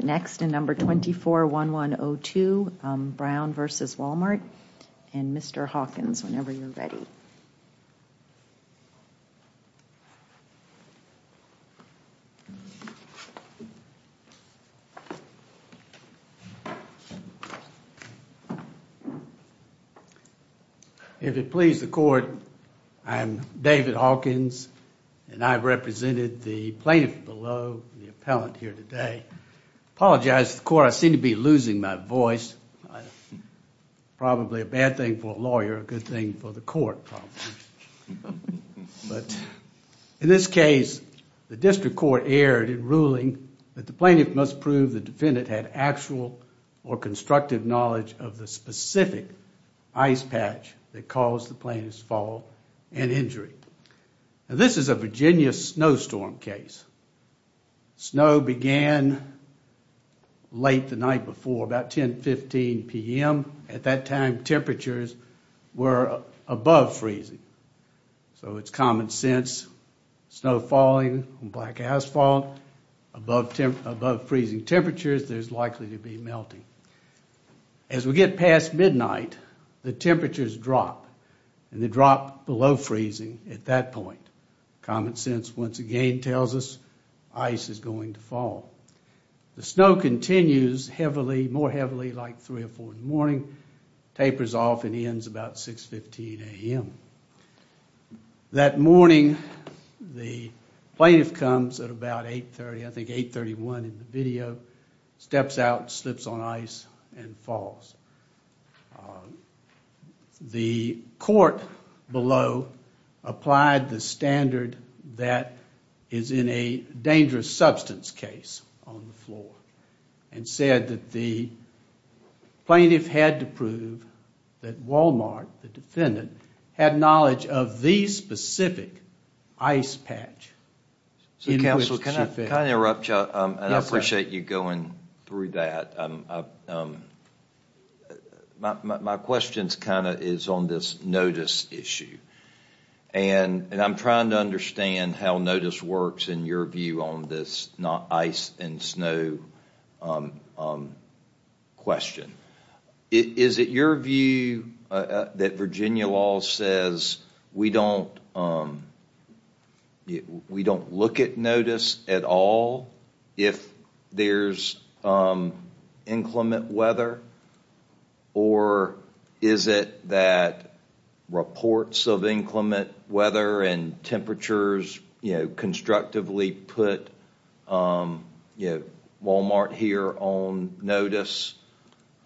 Next in number 24-1102, Brown v. Wal-Mart, and Mr. Hawkins, whenever you're ready. If it please the court, I'm David Hawkins, and I've represented the plaintiff below the Apologize to the court. I seem to be losing my voice. Probably a bad thing for a lawyer, a good thing for the court, probably. But in this case, the district court erred in ruling that the plaintiff must prove the defendant had actual or constructive knowledge of the specific ice patch that caused the plaintiff's fall and injury. Now this is a Virginia snowstorm case. Snow began late the night before, about 10-15 p.m. At that time, temperatures were above freezing. So it's common sense, snow falling on black asphalt, above freezing temperatures, there's likely to be melting. As we get past midnight, the temperatures drop, and they drop below freezing at that point. Common sense once again tells us ice is going to fall. The snow continues heavily, more heavily, like 3 or 4 in the morning, tapers off and ends about 6-15 a.m. That morning, the plaintiff comes at about 8-30, I think 8-31 in the video, steps out, slips on ice, and falls. The court below applied the standard that is in a dangerous substance case on the floor and said that the plaintiff had to prove that Wal-Mart, the defendant, had knowledge of the specific ice patch in which she fell. I appreciate you going through that. My question is on this notice issue. I'm trying to understand how notice works in your view on this ice and snow question. Is it your view that Virginia law says we don't look at notice at all if there's inclement weather, or is it that reports of inclement weather and temperatures constructively put Wal-Mart here on notice?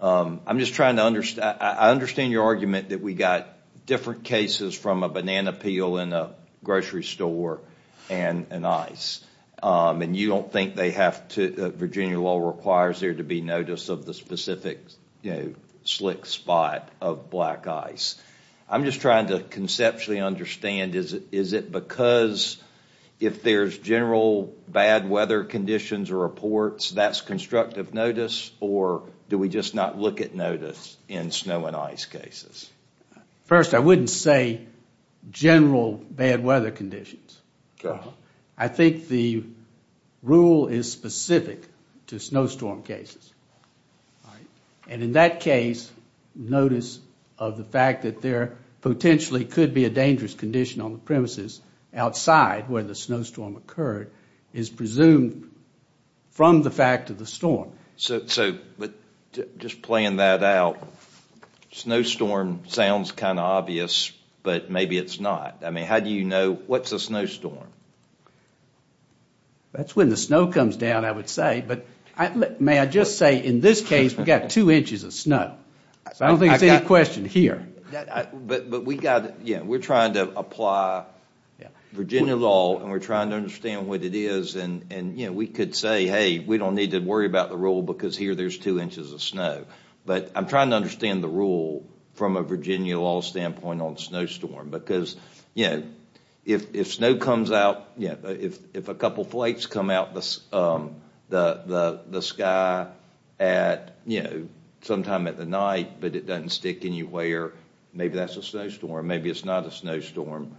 I'm just trying to understand. I understand your argument that we got different cases from a banana peel in a grocery store and an ice, and you don't think Virginia law requires there to be notice of the specific slick spot of black ice. I'm just trying to conceptually understand. Is it because if there's general bad weather conditions or reports, that's constructive notice, or do we just not look at notice in snow and ice cases? First, I wouldn't say general bad weather conditions. I think the rule is specific to snowstorm cases. In that case, notice of the fact that there potentially could be a dangerous condition on the premises outside where the snowstorm occurred is presumed from the fact of the storm. Just playing that out, snowstorm sounds kind of obvious, but maybe it's not. How do you know what's a snowstorm? That's when the snow comes down, I would say. May I just say in this case, we've got two inches of snow. I don't think there's any question here. We're trying to apply Virginia law, and we're trying to understand what it is. We could say, hey, we don't need to worry about the rule because here there's two inches of snow. I'm trying to understand the rule from a Virginia law standpoint on snowstorm. If a couple flights come out the sky sometime at the night, but it doesn't stick anywhere, maybe that's a snowstorm. Maybe it's not a snowstorm.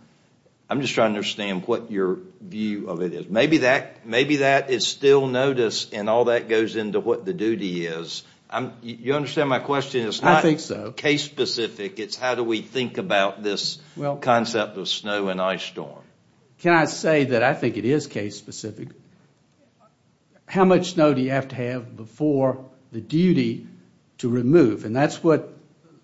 I'm just trying to understand what your view of it is. Maybe that is still notice and all that goes into what the duty is. You understand my question? It's not case specific. It's how do we think about this concept of snow and ice storm. Can I say that I think it is case specific? How much snow do you have to have before the duty to remove? That's what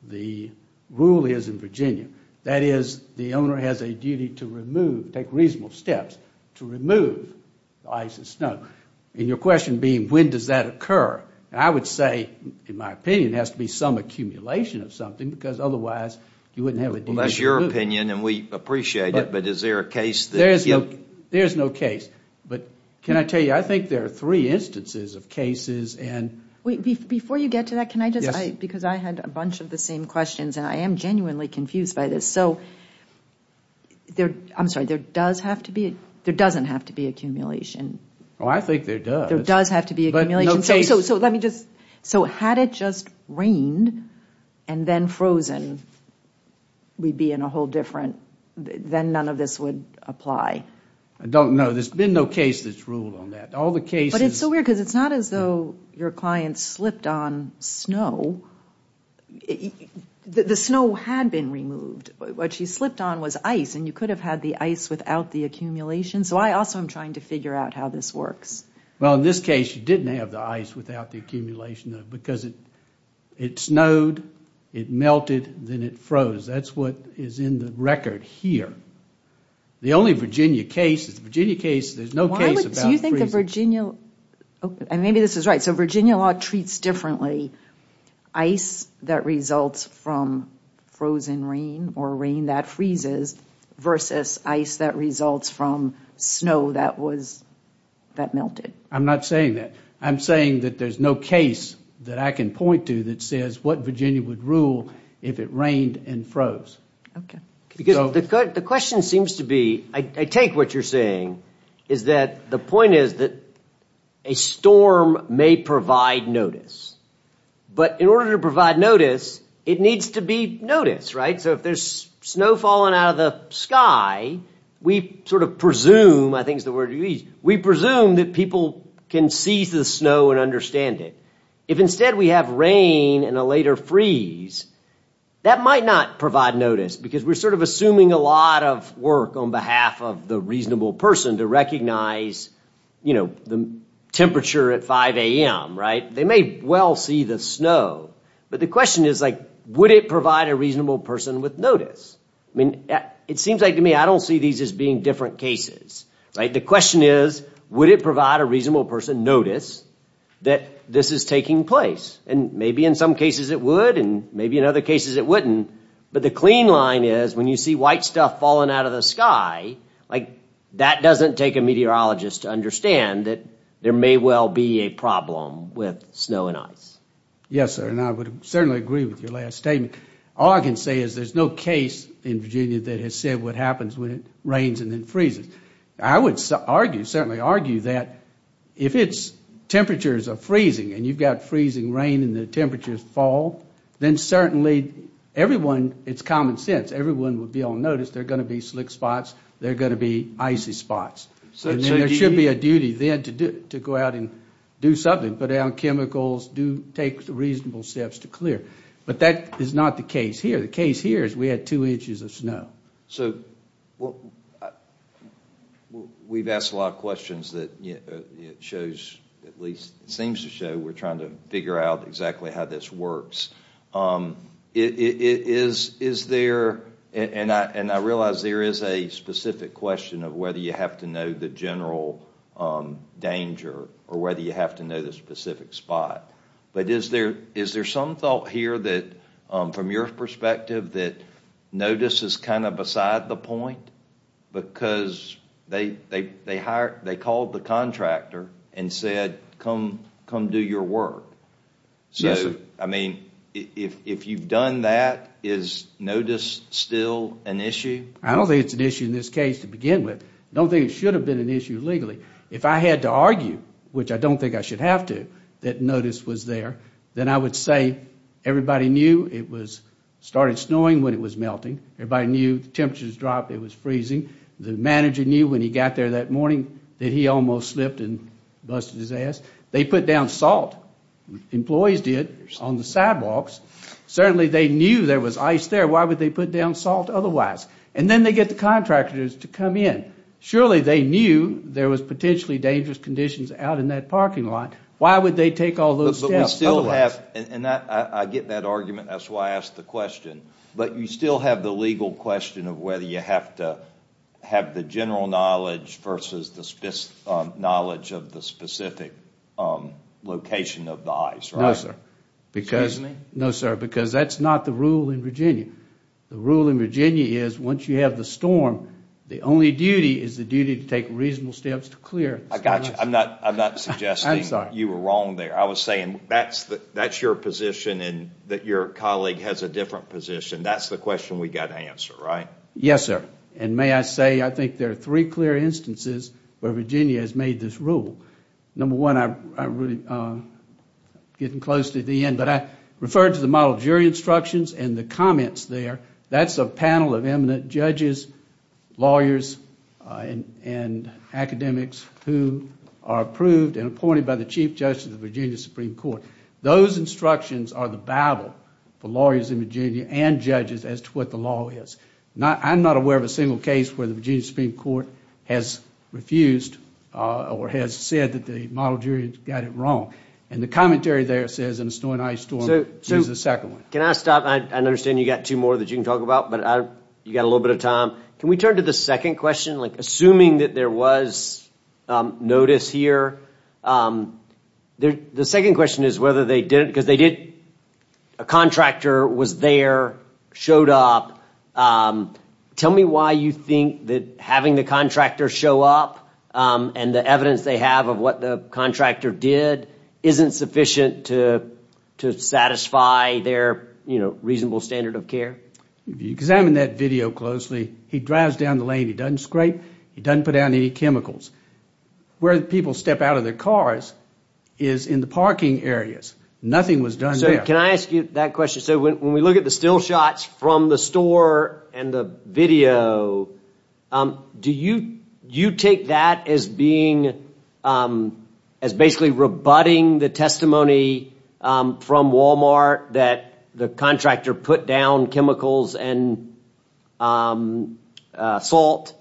the rule is in Virginia. That is, the owner has a duty to take reasonable steps to remove ice and snow. Your question being, when does that occur? I would say, in my opinion, it has to be some accumulation of something because otherwise you wouldn't have a duty to remove. That's your opinion, and we appreciate it, but is there a case? There is no case. Can I tell you, I think there are three instances of cases. Before you get to that, because I had a bunch of the same questions and I am genuinely confused by this. There doesn't have to be accumulation. I think there does. There does have to be accumulation. Had it just rained and then frozen, we would be in a whole different, then none of this would apply. I don't know. There has been no case that has ruled on that. But it's so weird because it's not as though your client slipped on snow. The snow had been removed. What she slipped on was ice, and you could have had the ice without the accumulation, so I also am trying to figure out how this works. Well, in this case, you didn't have the ice without the accumulation because it snowed, it melted, then it froze. That's what is in the record here. The only Virginia case, there is no case about freezing. Maybe this is right. So Virginia law treats differently ice that results from frozen rain or rain that freezes versus ice that results from snow that melted. I am not saying that. I am saying that there is no case that I can point to that says what Virginia would rule if it rained and froze. The question seems to be, I take what you are saying, is that the point is that a storm may provide notice. But in order to provide notice, it needs to be noticed. So if there is snow falling out of the sky, we presume that people can see the snow and understand it. If instead we have rain and a later freeze, that might not provide notice because we are assuming a lot of work on behalf of the reasonable person to recognize the temperature at 5 a.m. They may well see the snow, but the question is, would it provide a reasonable person with notice? It seems like to me, I don't see these as being different cases. The question is, would it provide a reasonable person notice that this is taking place? Maybe in some cases it would and maybe in other cases it wouldn't. But the clean line is, when you see white stuff falling out of the sky, that doesn't take a meteorologist to understand that there may well be a problem with snow and ice. Yes, sir, and I would certainly agree with your last statement. All I can say is there is no case in Virginia that has said what happens when it rains and then freezes. I would argue, certainly argue, that if temperatures are freezing and you've got freezing rain and the temperatures fall, then certainly everyone, it's common sense, everyone would be able to notice there are going to be slick spots, there are going to be icy spots. There should be a duty then to go out and do something, put down chemicals, take reasonable steps to clear. But that is not the case here. The case here is we had two inches of snow. So we've asked a lot of questions that it shows, at least it seems to show, we're trying to figure out exactly how this works. Is there, and I realize there is a specific question of whether you have to know the general danger or whether you have to know the specific spot, but is there some thought here that, from your perspective, that notice is kind of beside the point? Because they called the contractor and said, come do your work. Yes, sir. So, I mean, if you've done that, is notice still an issue? I don't think it's an issue in this case to begin with. I don't think it should have been an issue legally. If I had to argue, which I don't think I should have to, that notice was there, then I would say everybody knew it started snowing when it was melting. Everybody knew the temperatures dropped, it was freezing. The manager knew when he got there that morning that he almost slipped and busted his ass. They put down salt. Employees did on the sidewalks. Certainly they knew there was ice there. Why would they put down salt otherwise? And then they get the contractors to come in. Surely they knew there was potentially dangerous conditions out in that parking lot. Why would they take all those steps otherwise? But we still have, and I get that argument, that's why I asked the question, but you still have the legal question of whether you have to have the general knowledge versus the knowledge of the specific location of the ice, right? No, sir. Excuse me? No, sir, because that's not the rule in Virginia. The rule in Virginia is once you have the storm, the only duty is the duty to take reasonable steps to clear. I got you. I'm not suggesting you were wrong there. I was saying that's your position and that your colleague has a different position. That's the question we've got to answer, right? Yes, sir. And may I say I think there are three clear instances where Virginia has made this rule. Number one, I'm getting close to the end, but I referred to the model jury instructions and the comments there. That's a panel of eminent judges, lawyers, and academics who are approved and appointed by the Chief Justice of the Virginia Supreme Court. Those instructions are the Bible for lawyers in Virginia and judges as to what the law is. I'm not aware of a single case where the Virginia Supreme Court has refused or has said that the model jury got it wrong. And the commentary there says in the Snow and Ice Storm, this is the second one. Can I stop? I understand you've got two more that you can talk about, but you've got a little bit of time. Can we turn to the second question? Assuming that there was notice here, the second question is whether they did it because they did. A contractor was there, showed up. Tell me why you think that having the contractor show up and the evidence they have of what the contractor did isn't sufficient to satisfy their reasonable standard of care. If you examine that video closely, he drives down the lane. He doesn't scrape. He doesn't put down any chemicals. Where people step out of their cars is in the parking areas. Nothing was done there. Can I ask you that question? When we look at the still shots from the store and the video, do you take that as basically rebutting the testimony from Walmart that the contractor put down chemicals and salt?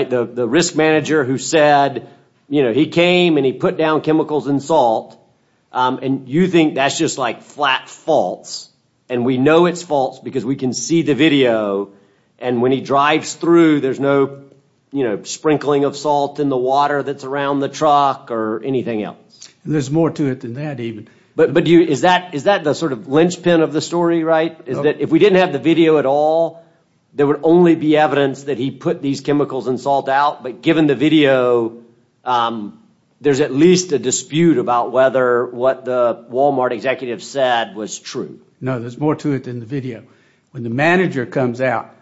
The risk manager who said he came and he put down chemicals and salt, and you think that's just like flat false. And we know it's false because we can see the video. And when he drives through, there's no sprinkling of salt in the water that's around the truck or anything else. There's more to it than that even. But is that the sort of linchpin of the story, right? Is that if we didn't have the video at all, there would only be evidence that he put these chemicals and salt out. But given the video, there's at least a dispute about whether what the Walmart executive said was true. No, there's more to it than the video. When the manager comes out,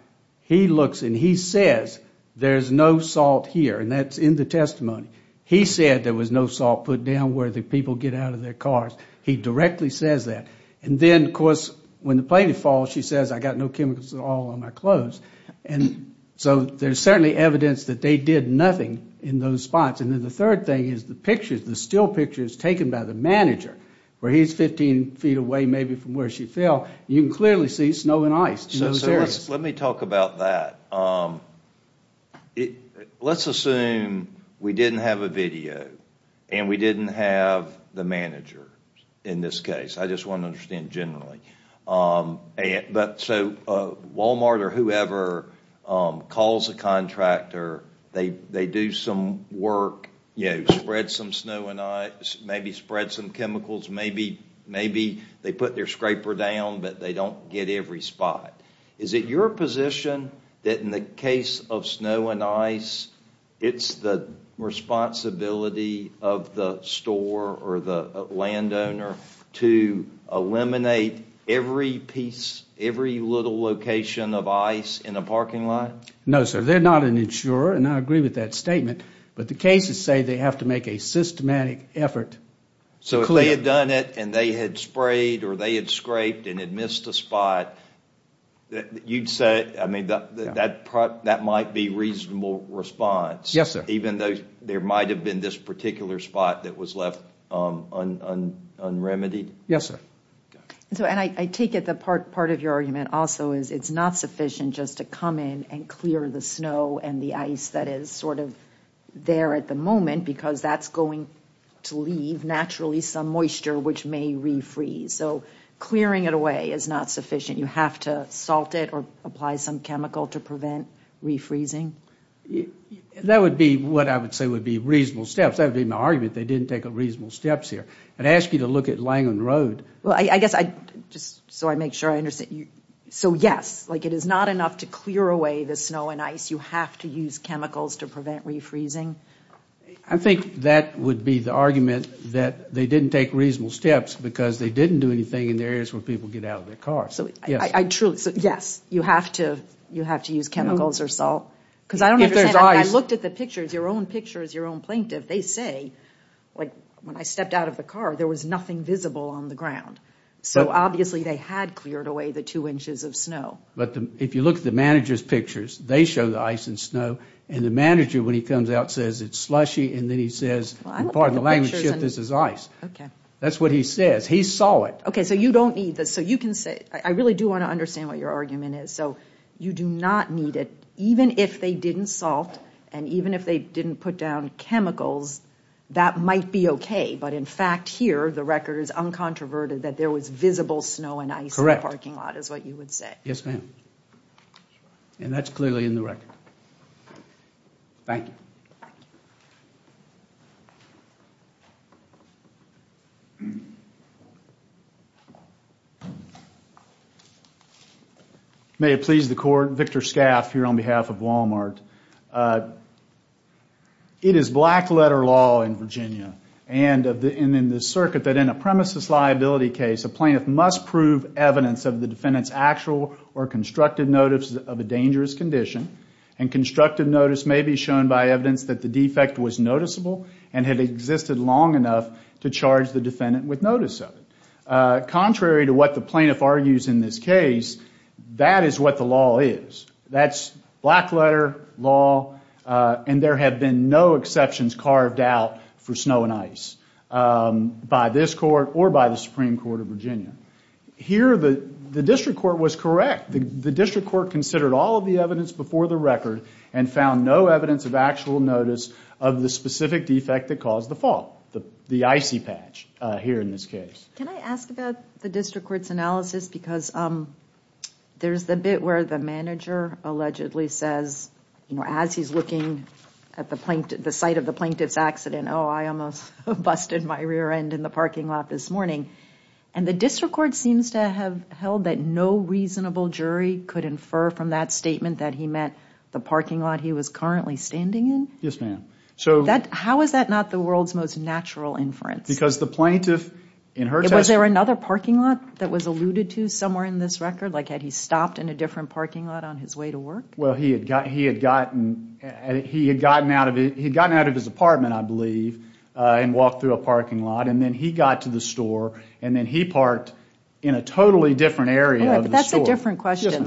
he looks and he says there's no salt here, and that's in the testimony. He said there was no salt put down where the people get out of their cars. He directly says that. And then, of course, when the plane falls, she says I got no chemicals at all on my clothes. And so there's certainly evidence that they did nothing in those spots. And then the third thing is the pictures, the still pictures taken by the manager, where he's 15 feet away maybe from where she fell. You can clearly see snow and ice in those areas. So let me talk about that. Let's assume we didn't have a video and we didn't have the manager in this case. I just want to understand generally. So Walmart or whoever calls a contractor, they do some work, spread some snow and ice, maybe spread some chemicals, maybe they put their scraper down but they don't get every spot. Is it your position that in the case of snow and ice, it's the responsibility of the store or the landowner to eliminate every piece, every little location of ice in a parking lot? No, sir. They're not an insurer, and I agree with that statement. But the cases say they have to make a systematic effort. So if they had done it and they had sprayed or they had scraped and had missed a spot, you'd say that might be reasonable response? Yes, sir. Even though there might have been this particular spot that was left unremitied? Yes, sir. And I take it that part of your argument also is it's not sufficient just to come in and clear the snow and the ice that is sort of there at the moment because that's going to leave naturally some moisture which may refreeze. So clearing it away is not sufficient. You have to salt it or apply some chemical to prevent refreezing? That would be what I would say would be reasonable steps. That would be my argument. They didn't take reasonable steps here. I'd ask you to look at Langland Road. Well, I guess just so I make sure I understand. So yes, like it is not enough to clear away the snow and ice. You have to use chemicals to prevent refreezing? I think that would be the argument that they didn't take reasonable steps because they didn't do anything in the areas where people get out of their cars. Yes, you have to use chemicals or salt. Because I don't understand. If there's ice. I looked at the pictures, your own pictures, your own plaintiff. They say, like when I stepped out of the car, there was nothing visible on the ground. So obviously they had cleared away the two inches of snow. But if you look at the manager's pictures, they show the ice and snow. And the manager, when he comes out, says it's slushy. And then he says, pardon the language shift, this is ice. That's what he says. He saw it. Okay, so you don't need this. So you can say, I really do want to understand what your argument is. So you do not need it. Even if they didn't salt and even if they didn't put down chemicals, that might be okay. But, in fact, here the record is uncontroverted that there was visible snow and ice in the parking lot is what you would say. Yes, ma'am. And that's clearly in the record. Thank you. May it please the Court, Victor Scaff here on behalf of Walmart. It is black letter law in Virginia and in the circuit that in a premises liability case, a plaintiff must prove evidence of the defendant's actual or constructive notice of a dangerous condition. And constructive notice may be shown by evidence that the defect was noticeable and had existed long enough to charge the defendant with notice of it. Contrary to what the plaintiff argues in this case, that is what the law is. That's black letter law. And there have been no exceptions carved out for snow and ice by this court or by the Supreme Court of Virginia. Here the district court was correct. The district court considered all of the evidence before the record and found no evidence of actual notice of the specific defect that caused the fall. The icy patch here in this case. Can I ask about the district court's analysis? Because there's the bit where the manager allegedly says, as he's looking at the site of the plaintiff's accident, oh, I almost busted my rear end in the parking lot this morning. And the district court seems to have held that no reasonable jury could infer from that statement that he meant the parking lot he was currently standing in? Yes, ma'am. How is that not the world's most natural inference? Because the plaintiff in her testimony was there another parking lot that was alluded to somewhere in this record? Like had he stopped in a different parking lot on his way to work? Well, he had gotten out of his apartment, I believe, and walked through a parking lot, and then he got to the store, and then he parked in a totally different area of the store. But that's a different question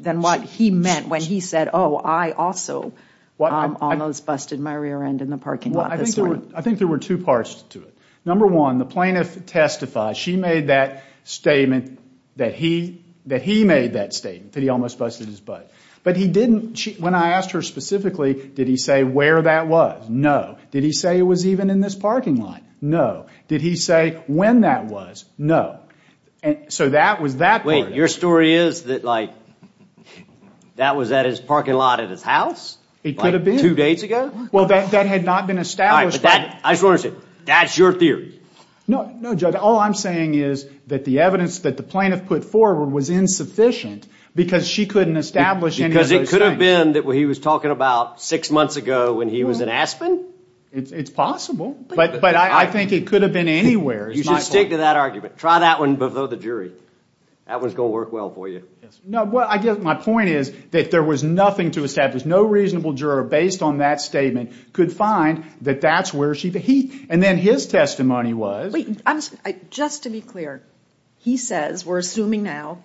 than what he meant when he said, oh, I also almost busted my rear end in the parking lot this morning. I think there were two parts to it. Number one, the plaintiff testified. She made that statement that he made that statement, that he almost busted his butt. But he didn't, when I asked her specifically, did he say where that was? No. Did he say it was even in this parking lot? No. Did he say when that was? No. So that was that part of it. Wait, your story is that, like, that was at his parking lot at his house? It could have been. Like two days ago? Well, that had not been established. That's your theory. No, Judge, all I'm saying is that the evidence that the plaintiff put forward was insufficient because she couldn't establish any of those things. Because it could have been that he was talking about six months ago when he was in Aspen? It's possible, but I think it could have been anywhere. You should stick to that argument. Try that one before the jury. That one's going to work well for you. No, I guess my point is that there was nothing to establish. And then his testimony was? Just to be clear, he says, we're assuming now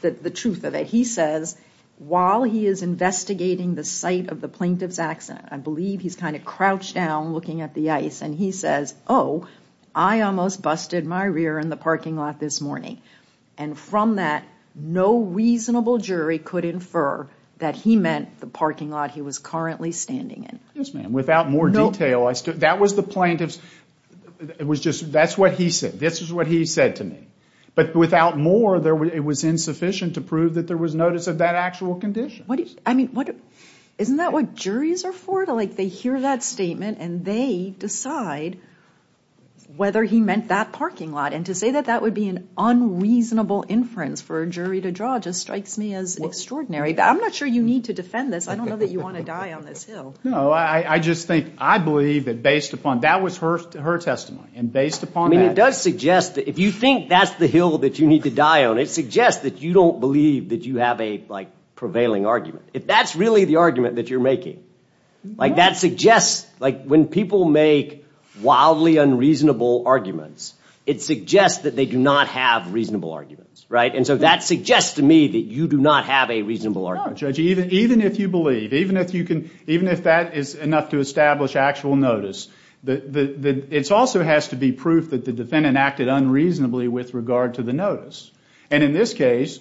the truth of it, he says, while he is investigating the site of the plaintiff's accident, I believe he's kind of crouched down looking at the ice, and he says, oh, I almost busted my rear in the parking lot this morning. And from that, no reasonable jury could infer that he meant the parking lot he was currently standing in. Yes, ma'am, without more detail. That was the plaintiff's, that's what he said. This is what he said to me. But without more, it was insufficient to prove that there was notice of that actual condition. Isn't that what juries are for? They hear that statement and they decide whether he meant that parking lot. And to say that that would be an unreasonable inference for a jury to draw just strikes me as extraordinary. I'm not sure you need to defend this. I don't know that you want to die on this hill. No, I just think I believe that based upon, that was her testimony, and based upon that. I mean, it does suggest that if you think that's the hill that you need to die on, it suggests that you don't believe that you have a, like, prevailing argument. If that's really the argument that you're making, like, that suggests, like, when people make wildly unreasonable arguments, it suggests that they do not have reasonable arguments, right? And so that suggests to me that you do not have a reasonable argument. No, Judge, even if you believe, even if you can, even if that is enough to establish actual notice, it also has to be proof that the defendant acted unreasonably with regard to the notice. And in this case,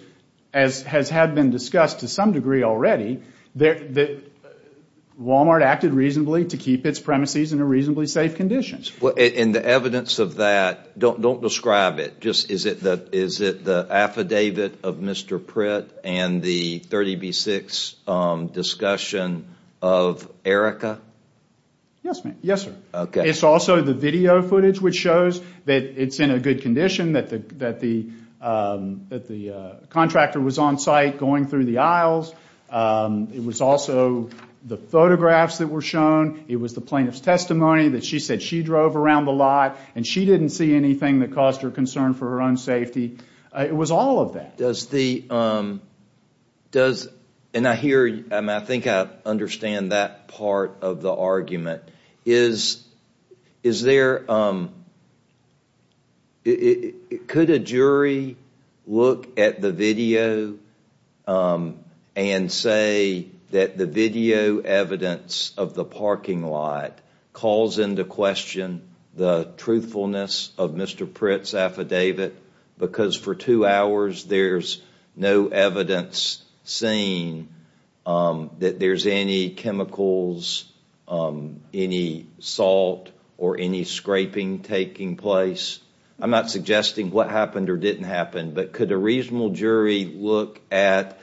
as has had been discussed to some degree already, Walmart acted reasonably to keep its premises in a reasonably safe condition. And the evidence of that, don't describe it. Is it the affidavit of Mr. Pritt and the 30B6 discussion of Erica? Yes, ma'am. Yes, sir. It's also the video footage which shows that it's in a good condition, that the contractor was on site going through the aisles. It was also the photographs that were shown. It was the plaintiff's testimony that she said she drove around the lot, and she didn't see anything that caused her concern for her own safety. It was all of that. Does the, does, and I hear, I mean, I think I understand that part of the argument. Is, is there, could a jury look at the video and say that the video evidence of the parking lot calls into question the truthfulness of Mr. Pritt's affidavit because for two hours there's no evidence seen that there's any chemicals, any salt, or any scraping taking place? I'm not suggesting what happened or didn't happen, but could a reasonable jury look at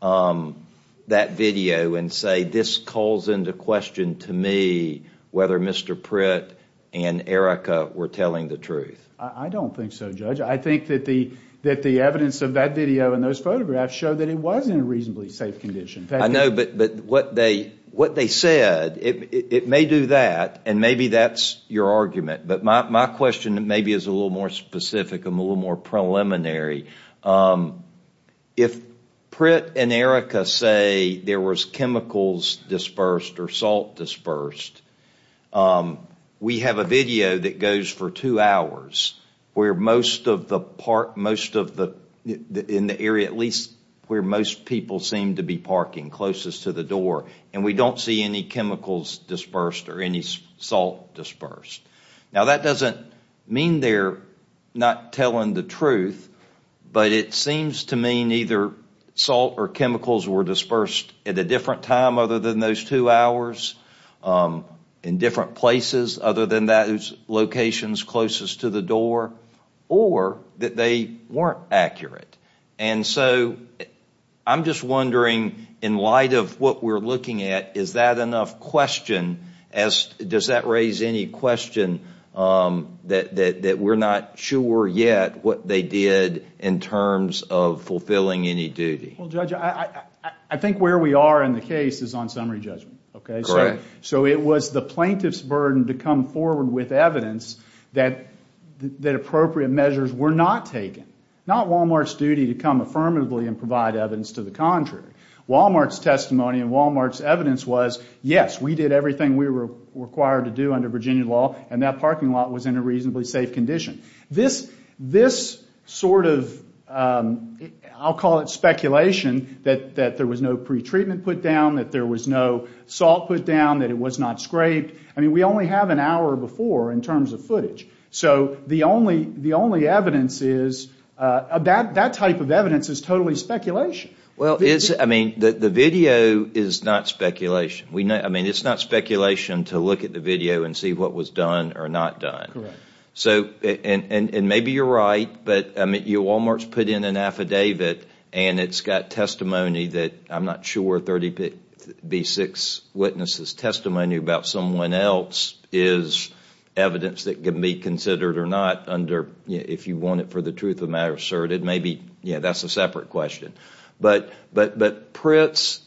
that video and say this calls into question to me whether Mr. Pritt and Erica were telling the truth? I don't think so, Judge. I think that the evidence of that video and those photographs show that it was in a reasonably safe condition. I know, but what they said, it may do that, and maybe that's your argument, but my question maybe is a little more specific and a little more preliminary. If Pritt and Erica say there was chemicals dispersed or salt dispersed, we have a video that goes for two hours where most of the park, most of the, in the area at least where most people seem to be parking closest to the door, and we don't see any chemicals dispersed or any salt dispersed. Now, that doesn't mean they're not telling the truth, but it seems to mean either salt or chemicals were dispersed at a different time other than those two hours, in different places other than those locations closest to the door, or that they weren't accurate. And so I'm just wondering, in light of what we're looking at, is that enough question, does that raise any question that we're not sure yet what they did in terms of fulfilling any duty? Well, Judge, I think where we are in the case is on summary judgment. So it was the plaintiff's burden to come forward with evidence that appropriate measures were not taken. Not Wal-Mart's duty to come affirmatively and provide evidence to the contrary. Wal-Mart's testimony and Wal-Mart's evidence was, yes, we did everything we were required to do under Virginia law, and that parking lot was in a reasonably safe condition. This sort of, I'll call it speculation, that there was no pretreatment put down, that there was no salt put down, that it was not scraped, I mean, we only have an hour before in terms of footage. So the only evidence is, that type of evidence is totally speculation. Well, it's, I mean, the video is not speculation. I mean, it's not speculation to look at the video and see what was done or not done. Correct. So, and maybe you're right, but, I mean, Wal-Mart's put in an affidavit, and it's got testimony that, I'm not sure, 36 witnesses' testimony about someone else is evidence that can be considered or not under, if you want it for the truth of the matter asserted, maybe, yeah, that's a separate question. But Pritt's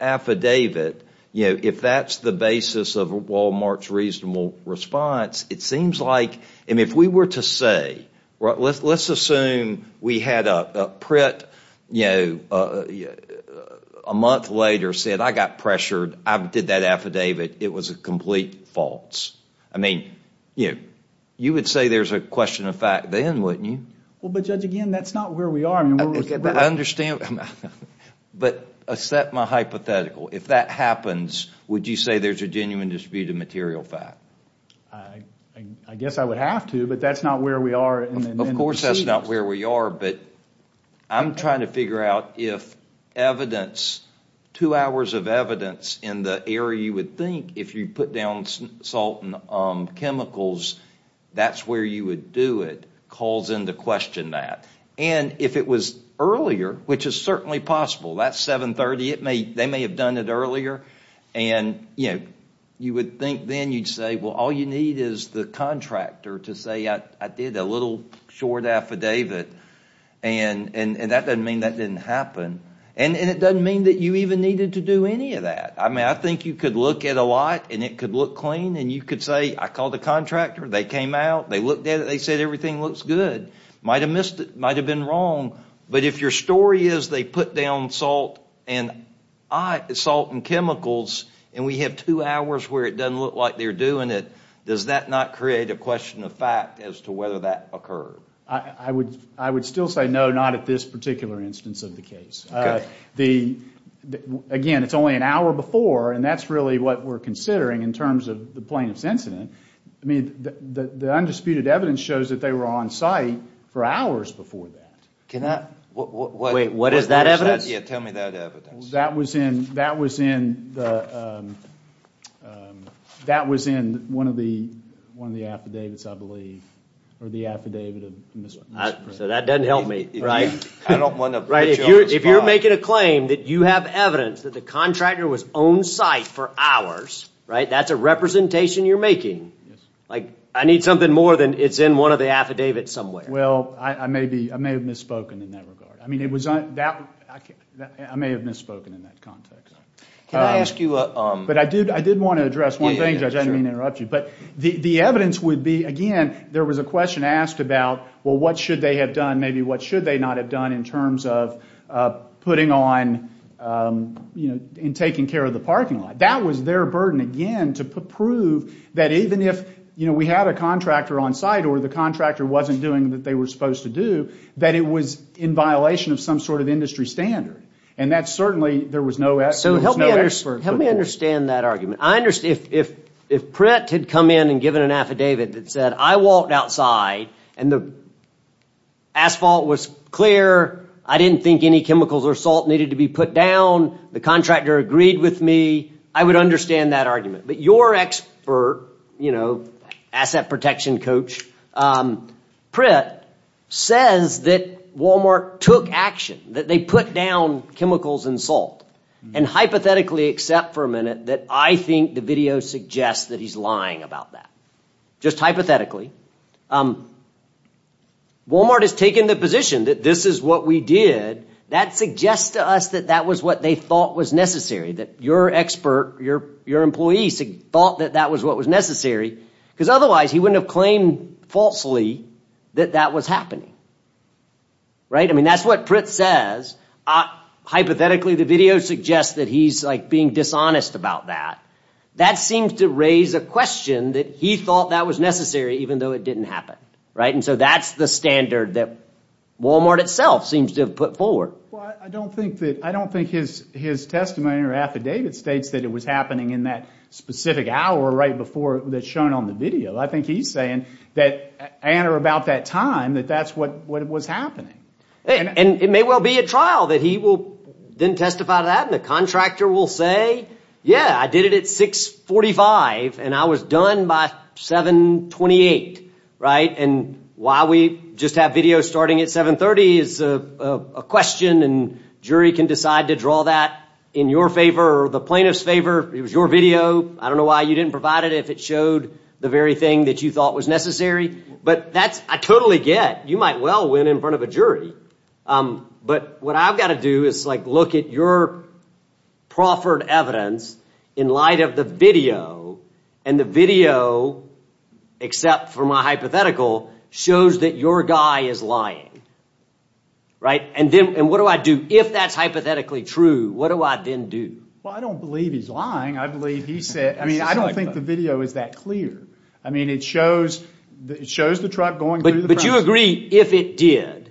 affidavit, you know, if that's the basis of Wal-Mart's reasonable response, it seems like, I mean, if we were to say, let's assume we had a, Pritt, you know, a month later said, I got pressured, I did that affidavit, it was a complete false. I mean, you know, you would say there's a question of fact then, wouldn't you? Well, but Judge, again, that's not where we are. I understand, but accept my hypothetical. If that happens, would you say there's a genuine dispute of material fact? I guess I would have to, but that's not where we are. Of course that's not where we are, but I'm trying to figure out if evidence, two hours of evidence in the area you would think, if you put down salt and chemicals, that's where you would do it, calls into question that. And if it was earlier, which is certainly possible, that's 730, they may have done it earlier, and, you know, you would think then you'd say, well, all you need is the contractor to say, I did a little short affidavit, and that doesn't mean that didn't happen. And it doesn't mean that you even needed to do any of that. I mean, I think you could look at a lot, and it could look clean, and you could say, I called the contractor, they came out, they looked at it, they said everything looks good. Might have missed it, might have been wrong, but if your story is they put down salt and chemicals, and we have two hours where it doesn't look like they're doing it, does that not create a question of fact as to whether that occurred? I would still say no, not at this particular instance of the case. Again, it's only an hour before, and that's really what we're considering in terms of the plaintiff's incident. I mean, the undisputed evidence shows that they were on site for hours before that. Wait, what is that evidence? Yeah, tell me that evidence. That was in one of the affidavits, I believe, or the affidavit. So that doesn't help me, right? I don't want to put you on the spot. If you're making a claim that you have evidence that the contractor was on site for hours, right, that's a representation you're making. I need something more than it's in one of the affidavits somewhere. Well, I may have misspoken in that regard. I mean, I may have misspoken in that context. But I did want to address one thing, Judge. I didn't mean to interrupt you. But the evidence would be, again, there was a question asked about, well, what should they have done, maybe what should they not have done, in terms of putting on and taking care of the parking lot. That was their burden, again, to prove that even if we had a contractor on site or the contractor wasn't doing what they were supposed to do, that it was in violation of some sort of industry standard. And that certainly, there was no expert. So help me understand that argument. If Pratt had come in and given an affidavit that said, I walked outside and the asphalt was clear, I didn't think any chemicals or salt needed to be put down, the contractor agreed with me, I would understand that argument. But your expert, you know, asset protection coach, Pratt says that Walmart took action, that they put down chemicals and salt. And hypothetically, except for a minute, that I think the video suggests that he's lying about that. Just hypothetically. Walmart has taken the position that this is what we did. That suggests to us that that was what they thought was necessary, that your expert, your employees thought that that was what was necessary, because otherwise he wouldn't have claimed falsely that that was happening. Right? I mean, that's what Pratt says. Hypothetically, the video suggests that he's being dishonest about that. That seems to raise a question that he thought that was necessary, even though it didn't happen. Right? And so that's the standard that Walmart itself seems to have put forward. Well, I don't think his testimony or affidavit states that it was happening in that specific hour right before that's shown on the video. I think he's saying that, and or about that time, that that's what was happening. And it may well be at trial that he will then testify to that and the contractor will say, yeah, I did it at 6.45 and I was done by 7.28. Right? And why we just have video starting at 7.30 is a question, and jury can decide to draw that in your favor or the plaintiff's favor. It was your video. I don't know why you didn't provide it if it showed the very thing that you thought was necessary. But I totally get you might well win in front of a jury. But what I've got to do is look at your proffered evidence in light of the video, and the video, except for my hypothetical, shows that your guy is lying. Right? And what do I do if that's hypothetically true? What do I then do? Well, I don't believe he's lying. I believe he said, I mean, I don't think the video is that clear. I mean, it shows the truck going through the process. But you agree if it did.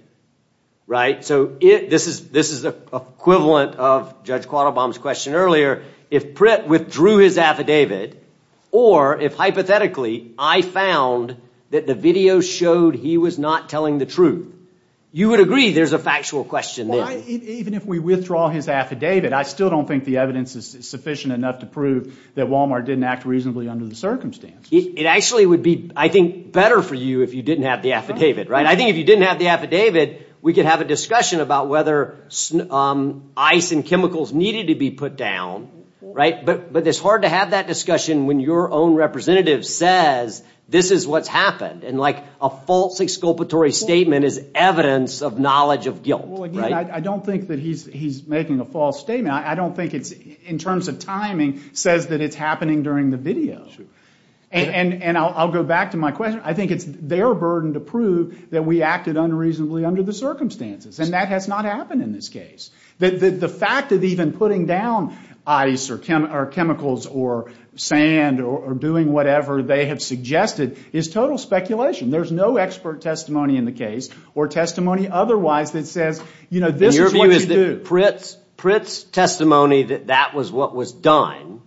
Right? So this is the equivalent of Judge Quattlebaum's question earlier. If Pritt withdrew his affidavit, or if hypothetically I found that the video showed he was not telling the truth, you would agree there's a factual question there. Even if we withdraw his affidavit, I still don't think the evidence is sufficient enough to prove that Walmart didn't act reasonably under the circumstances. It actually would be, I think, better for you if you didn't have the affidavit. Right? I think if you didn't have the affidavit, we could have a discussion about whether ice and chemicals needed to be put down. Right? But it's hard to have that discussion when your own representative says, this is what's happened. And, like, a false exculpatory statement is evidence of knowledge of guilt. Well, again, I don't think that he's making a false statement. I don't think it's, in terms of timing, says that it's happening during the video. And I'll go back to my question. I think it's their burden to prove that we acted unreasonably under the circumstances. And that has not happened in this case. The fact that even putting down ice or chemicals or sand or doing whatever they have suggested is total speculation. There's no expert testimony in the case or testimony otherwise that says, you know, this is what you do. And your view is that Pritt's testimony that that was what was done,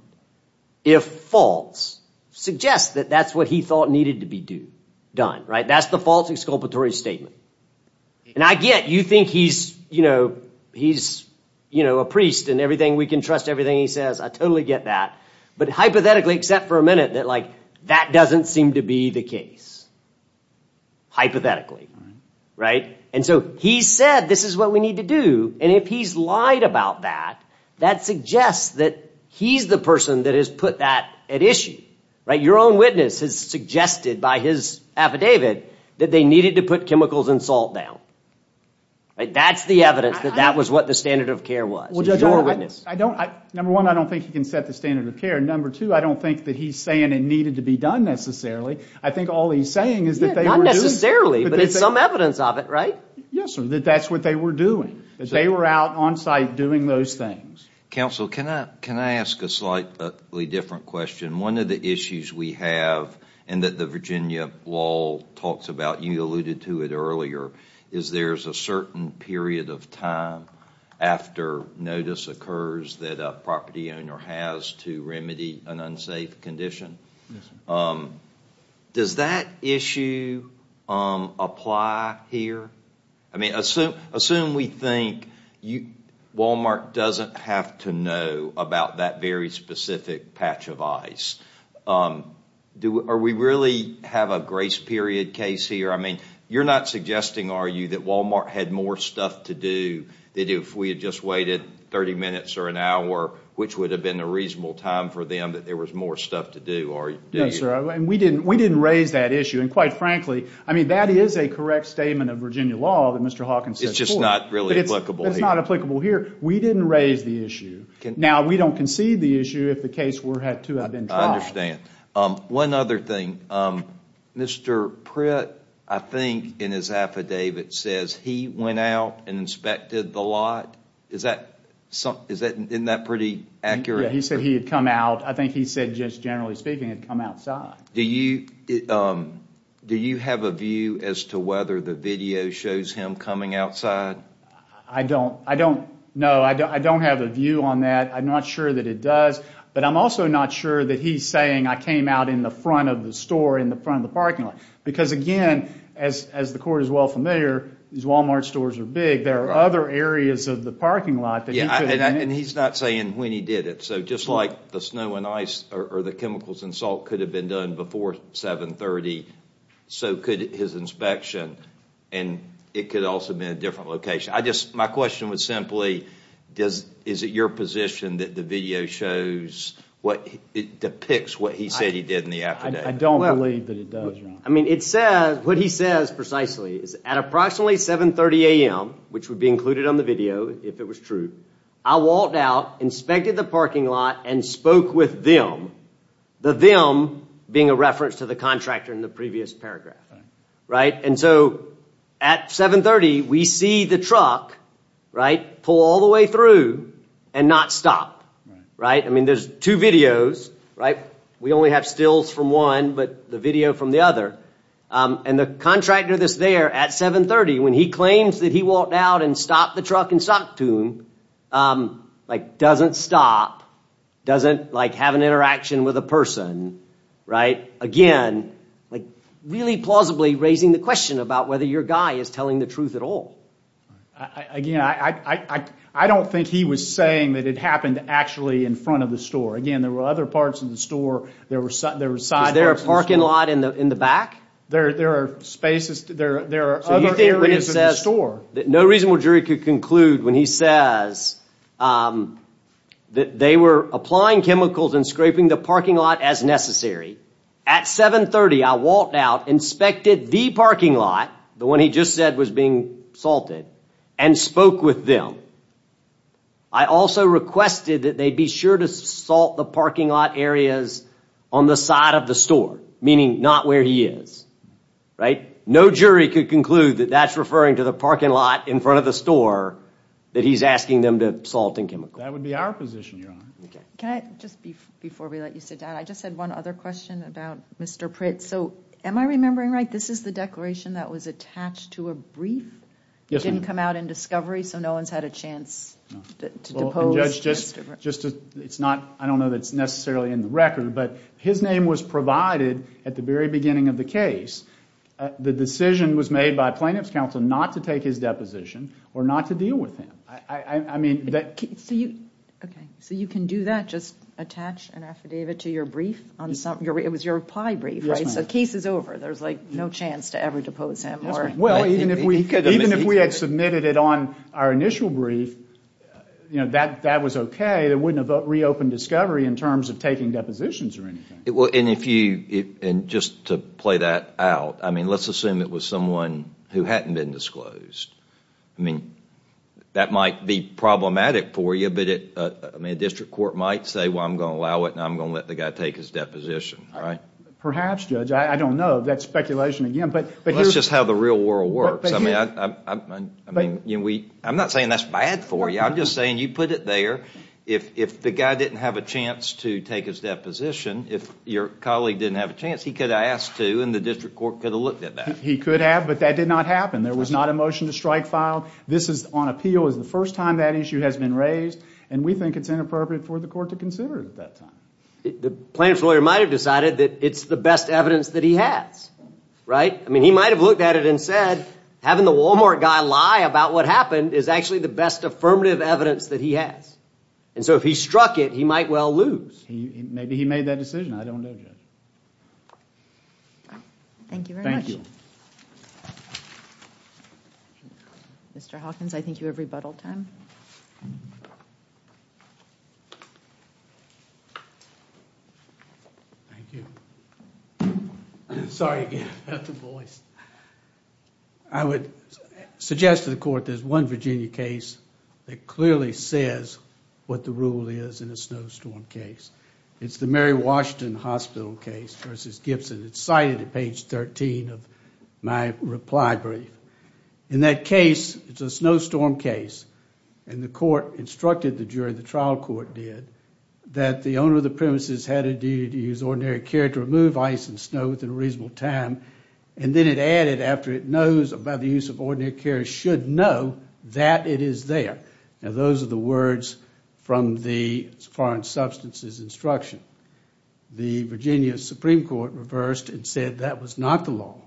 if false, suggests that that's what he thought needed to be done. Right? That's the false exculpatory statement. And I get you think he's, you know, he's, you know, a priest and everything, we can trust everything he says. I totally get that. But hypothetically, except for a minute, that, like, that doesn't seem to be the case. Hypothetically. Right? And so he said this is what we need to do. And if he's lied about that, that suggests that he's the person that has put that at issue. Right? Your own witness has suggested by his affidavit that they needed to put chemicals and salt down. Right? That's the evidence that that was what the standard of care was. Your witness. Number one, I don't think he can set the standard of care. Number two, I don't think that he's saying it needed to be done necessarily. I think all he's saying is that they were doing it. Not necessarily, but it's some evidence of it. Right? Yes, sir, that that's what they were doing. They were out on site doing those things. Counsel, can I ask a slightly different question? One of the issues we have and that the Virginia law talks about, you alluded to it earlier, is there's a certain period of time after notice occurs that a property owner has to remedy an unsafe condition. Yes, sir. Does that issue apply here? Assume we think Wal-Mart doesn't have to know about that very specific patch of ice. Do we really have a grace period case here? I mean, you're not suggesting, are you, that Wal-Mart had more stuff to do than if we had just waited 30 minutes or an hour, which would have been a reasonable time for them that there was more stuff to do, are you? No, sir. We didn't raise that issue. And quite frankly, I mean, that is a correct statement of Virginia law that Mr. Hawkins said before. It's just not really applicable here. It's not applicable here. We didn't raise the issue. Now, we don't concede the issue if the case were to have been tried. I understand. One other thing. Mr. Pritt, I think in his affidavit, says he went out and inspected the lot. Isn't that pretty accurate? Yes, he said he had come out. I think he said, just generally speaking, he had come outside. Do you have a view as to whether the video shows him coming outside? I don't. No, I don't have a view on that. I'm not sure that it does. But I'm also not sure that he's saying, I came out in the front of the store in the front of the parking lot. Because, again, as the court is well familiar, these Wal-Mart stores are big. There are other areas of the parking lot that he could have been in. And he's not saying when he did it. So just like the snow and ice or the chemicals and salt could have been done before 730, so could his inspection. And it could also have been a different location. My question was simply, is it your position that the video shows, depicts what he said he did in the affidavit? I don't believe that it does, Ron. What he says precisely is, at approximately 730 a.m., which would be included on the video if it was true, I walked out, inspected the parking lot, and spoke with them. The them being a reference to the contractor in the previous paragraph. And so at 730, we see the truck pull all the way through and not stop. I mean, there's two videos. We only have stills from one, but the video from the other. And the contractor that's there at 730, when he claims that he walked out and stopped the truck and talked to him, doesn't stop, doesn't have an interaction with a person. Again, really plausibly raising the question about whether your guy is telling the truth at all. Again, I don't think he was saying that it happened actually in front of the store. Again, there were other parts of the store. Was there a parking lot in the back? There are other areas in the store. No reasonable jury could conclude when he says that they were applying chemicals and scraping the parking lot as necessary. At 730, I walked out, inspected the parking lot, the one he just said was being salted, and spoke with them. I also requested that they be sure to salt the parking lot areas on the side of the store, meaning not where he is. No jury could conclude that that's referring to the parking lot in front of the store that he's asking them to salt and chemical. That would be our position, Your Honor. Just before we let you sit down, I just had one other question about Mr. Pritz. Am I remembering right, this is the declaration that was attached to a brief? Yes, ma'am. It didn't come out in discovery, so no one's had a chance to depose Mr. Pritz. I don't know that it's necessarily in the record, but his name was provided at the very beginning of the case. The decision was made by plaintiff's counsel not to take his deposition or not to deal with him. So you can do that, just attach an affidavit to your brief? It was your reply brief, right? So the case is over. There's no chance to ever depose him. Even if we had submitted it on our initial brief, that was okay. It wouldn't have reopened discovery in terms of taking depositions or anything. Just to play that out, let's assume it was someone who hadn't been disclosed. That might be problematic for you, but a district court might say, I'm going to allow it and I'm going to let the guy take his deposition. Perhaps, Judge, I don't know. That's speculation again. That's just how the real world works. I'm not saying that's bad for you. I'm just saying you put it there. If the guy didn't have a chance to take his deposition, if your colleague didn't have a chance, he could have asked to and the district court could have looked at that. He could have, but that did not happen. There was not a motion to strike filed. This is on appeal. It was the first time that issue has been raised, and we think it's inappropriate for the court to consider it at that time. The plaintiff's lawyer might have decided that it's the best evidence that he has. He might have looked at it and said, having the Walmart guy lie about what happened is actually the best affirmative evidence that he has. If he struck it, he might well lose. Maybe he made that decision. I don't know, Judge. Thank you very much. Thank you. Mr. Hawkins, I think you have rebuttal time. Thank you. Sorry again about the voice. I would suggest to the court there's one Virginia case that clearly says what the rule is in a snowstorm case. It's the Mary Washington Hospital case versus Gibson. It's cited at page 13 of my reply brief. In that case, it's a snowstorm case, and the court instructed the jury, the trial court did, that the owner of the premises had a duty to use ordinary care to remove ice and snow within a reasonable time, and then it added, after it knows about the use of ordinary care, should know that it is there. Now, those are the words from the foreign substances instruction. The Virginia Supreme Court reversed and said that was not the law,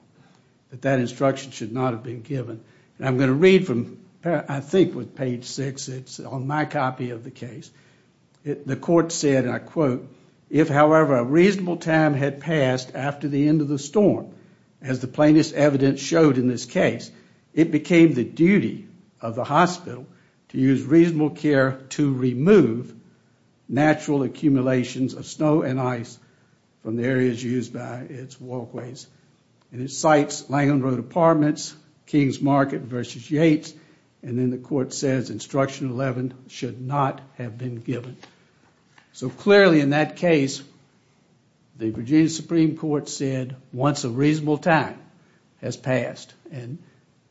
that that instruction should not have been given. I'm going to read from, I think, with page 6. It's on my copy of the case. The court said, and I quote, if, however, a reasonable time had passed after the end of the storm, as the plainest evidence showed in this case, it became the duty of the hospital to use reasonable care to remove natural accumulations of snow and ice from the areas used by its walkways. And it cites Langland Road Apartments, King's Market versus Yates, and then the court says instruction 11 should not have been given. So clearly, in that case, the Virginia Supreme Court said, once a reasonable time has passed, and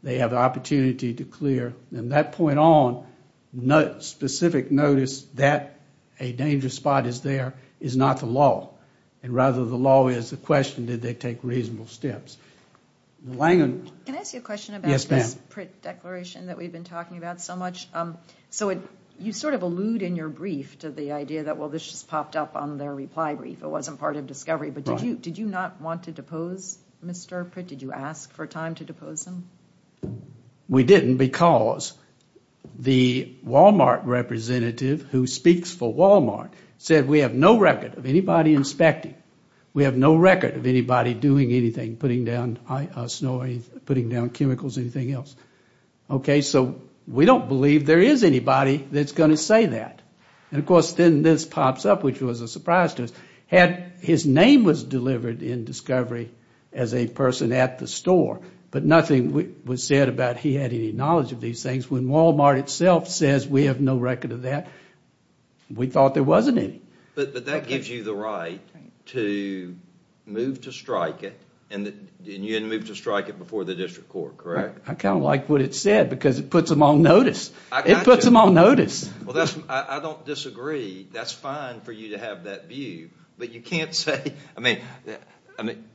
they have the opportunity to clear, and that point on, specific notice that a dangerous spot is there is not the law, and rather the law is the question, did they take reasonable steps. Can I ask you a question about this Pritt declaration that we've been talking about so much? So you sort of allude in your brief to the idea that, well, this just popped up on their reply brief. It wasn't part of discovery. But did you not want to depose Mr. Pritt? Did you ask for time to depose him? We didn't because the Walmart representative who speaks for Walmart said we have no record of anybody inspecting. We have no record of anybody doing anything, putting down snow, putting down chemicals, anything else. So we don't believe there is anybody that's going to say that. And, of course, then this pops up, which was a surprise to us. His name was delivered in discovery as a person at the store, but nothing was said about he had any knowledge of these things. When Walmart itself says we have no record of that, we thought there wasn't any. But that gives you the right to move to strike it, and you didn't move to strike it before the district court, correct? I kind of like what it said because it puts them on notice. It puts them on notice. I don't disagree. That's fine for you to have that view, but you can't say.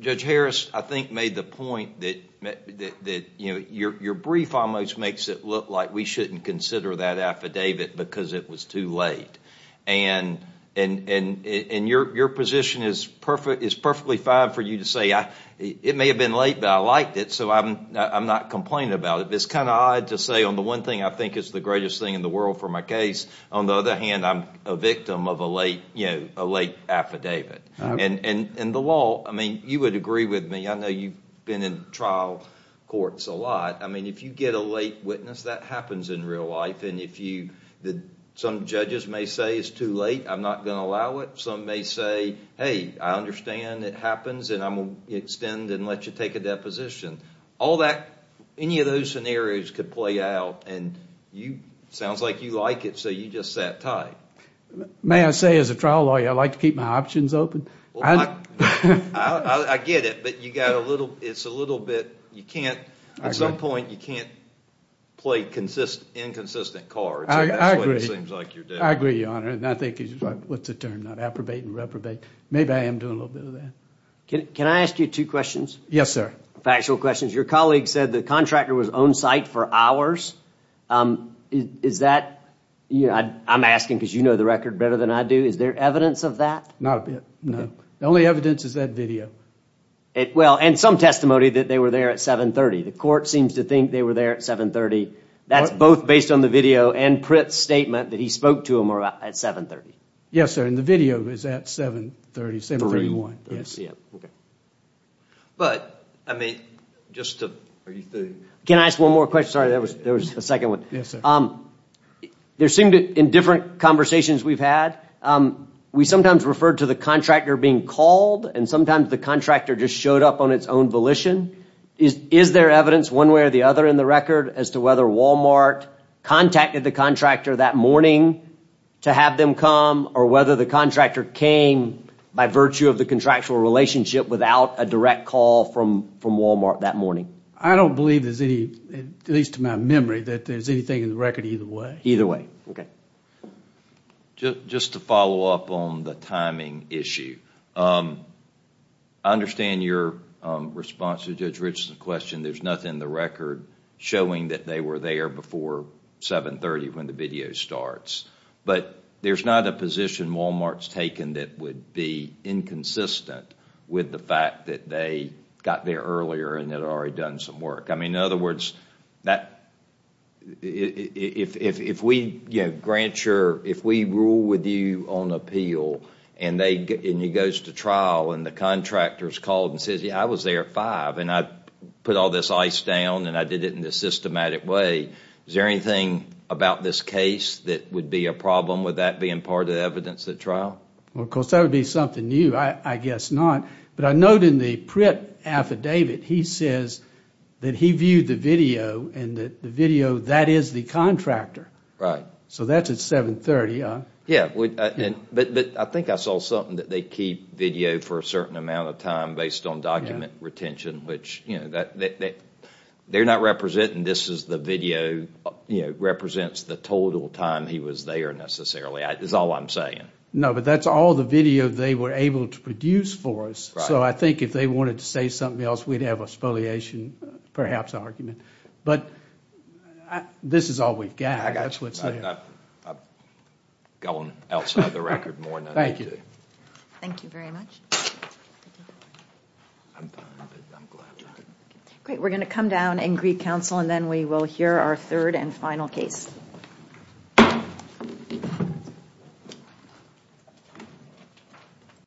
Judge Harris, I think, made the point that your brief almost makes it look like we shouldn't consider that affidavit because it was too late. And your position is perfectly fine for you to say, it may have been late, but I liked it, so I'm not complaining about it. It's kind of odd to say, on the one thing, I think it's the greatest thing in the world for my case. On the other hand, I'm a victim of a late affidavit. And the law, I mean, you would agree with me. I know you've been in trial courts a lot. I mean, if you get a late witness, that happens in real life. Some judges may say it's too late, I'm not going to allow it. Some may say, hey, I understand it happens, and I'm going to extend and let you take a deposition. Any of those scenarios could play out. And it sounds like you like it, so you just sat tight. May I say, as a trial lawyer, I like to keep my options open. I get it, but it's a little bit... I agree, Your Honor, and I think... What's the term? Approbate and reprobate. Maybe I am doing a little bit of that. Can I ask you two questions? Yes, sir. Factual questions. Your colleague said the contractor was on site for hours. Is that... I'm asking because you know the record better than I do. Is there evidence of that? Not a bit, no. The only evidence is that video. Well, and some testimony that they were there at 730. The court seems to think they were there at 730. That's both based on the video and Pritt's statement that he spoke to them at 730. Yes, sir, and the video is at 730, 731. But, I mean, just to... Can I ask one more question? Sorry, there was a second one. Yes, sir. There seem to... In different conversations we've had, we sometimes refer to the contractor being called, and sometimes the contractor just showed up on its own volition. Is there evidence one way or the other in the record as to whether Wal-Mart contacted the contractor that morning to have them come, or whether the contractor came by virtue of the contractual relationship without a direct call from Wal-Mart that morning? I don't believe there's any, at least to my memory, that there's anything in the record either way. Either way, okay. Just to follow up on the timing issue, I understand your response to Judge Rich's question. There's nothing in the record showing that they were there before 730 when the video starts. But, there's not a position Wal-Mart's taken that would be inconsistent with the fact that they got there earlier and had already done some work. I mean, in other words, if we, you know, grant your... and the contractor's called and says, yeah, I was there at 5 and I put all this ice down and I did it in a systematic way, is there anything about this case that would be a problem with that being part of the evidence at trial? Well, of course, that would be something new. I guess not. But I note in the print affidavit, he says that he viewed the video and that the video, that is the contractor. Right. So that's at 730, huh? Yeah. But I think I saw something that they keep video for a certain amount of time based on document retention, which, you know, they're not representing this as the video represents the total time he was there, necessarily, is all I'm saying. No, but that's all the video they were able to produce for us. So I think if they wanted to say something else, we'd have a spoliation, perhaps, argument. But this is all we've got. That's what's there. I'm going outside the record more than I need to. Thank you very much. Great. We're going to come down and greet counsel, and then we will hear our third and final case.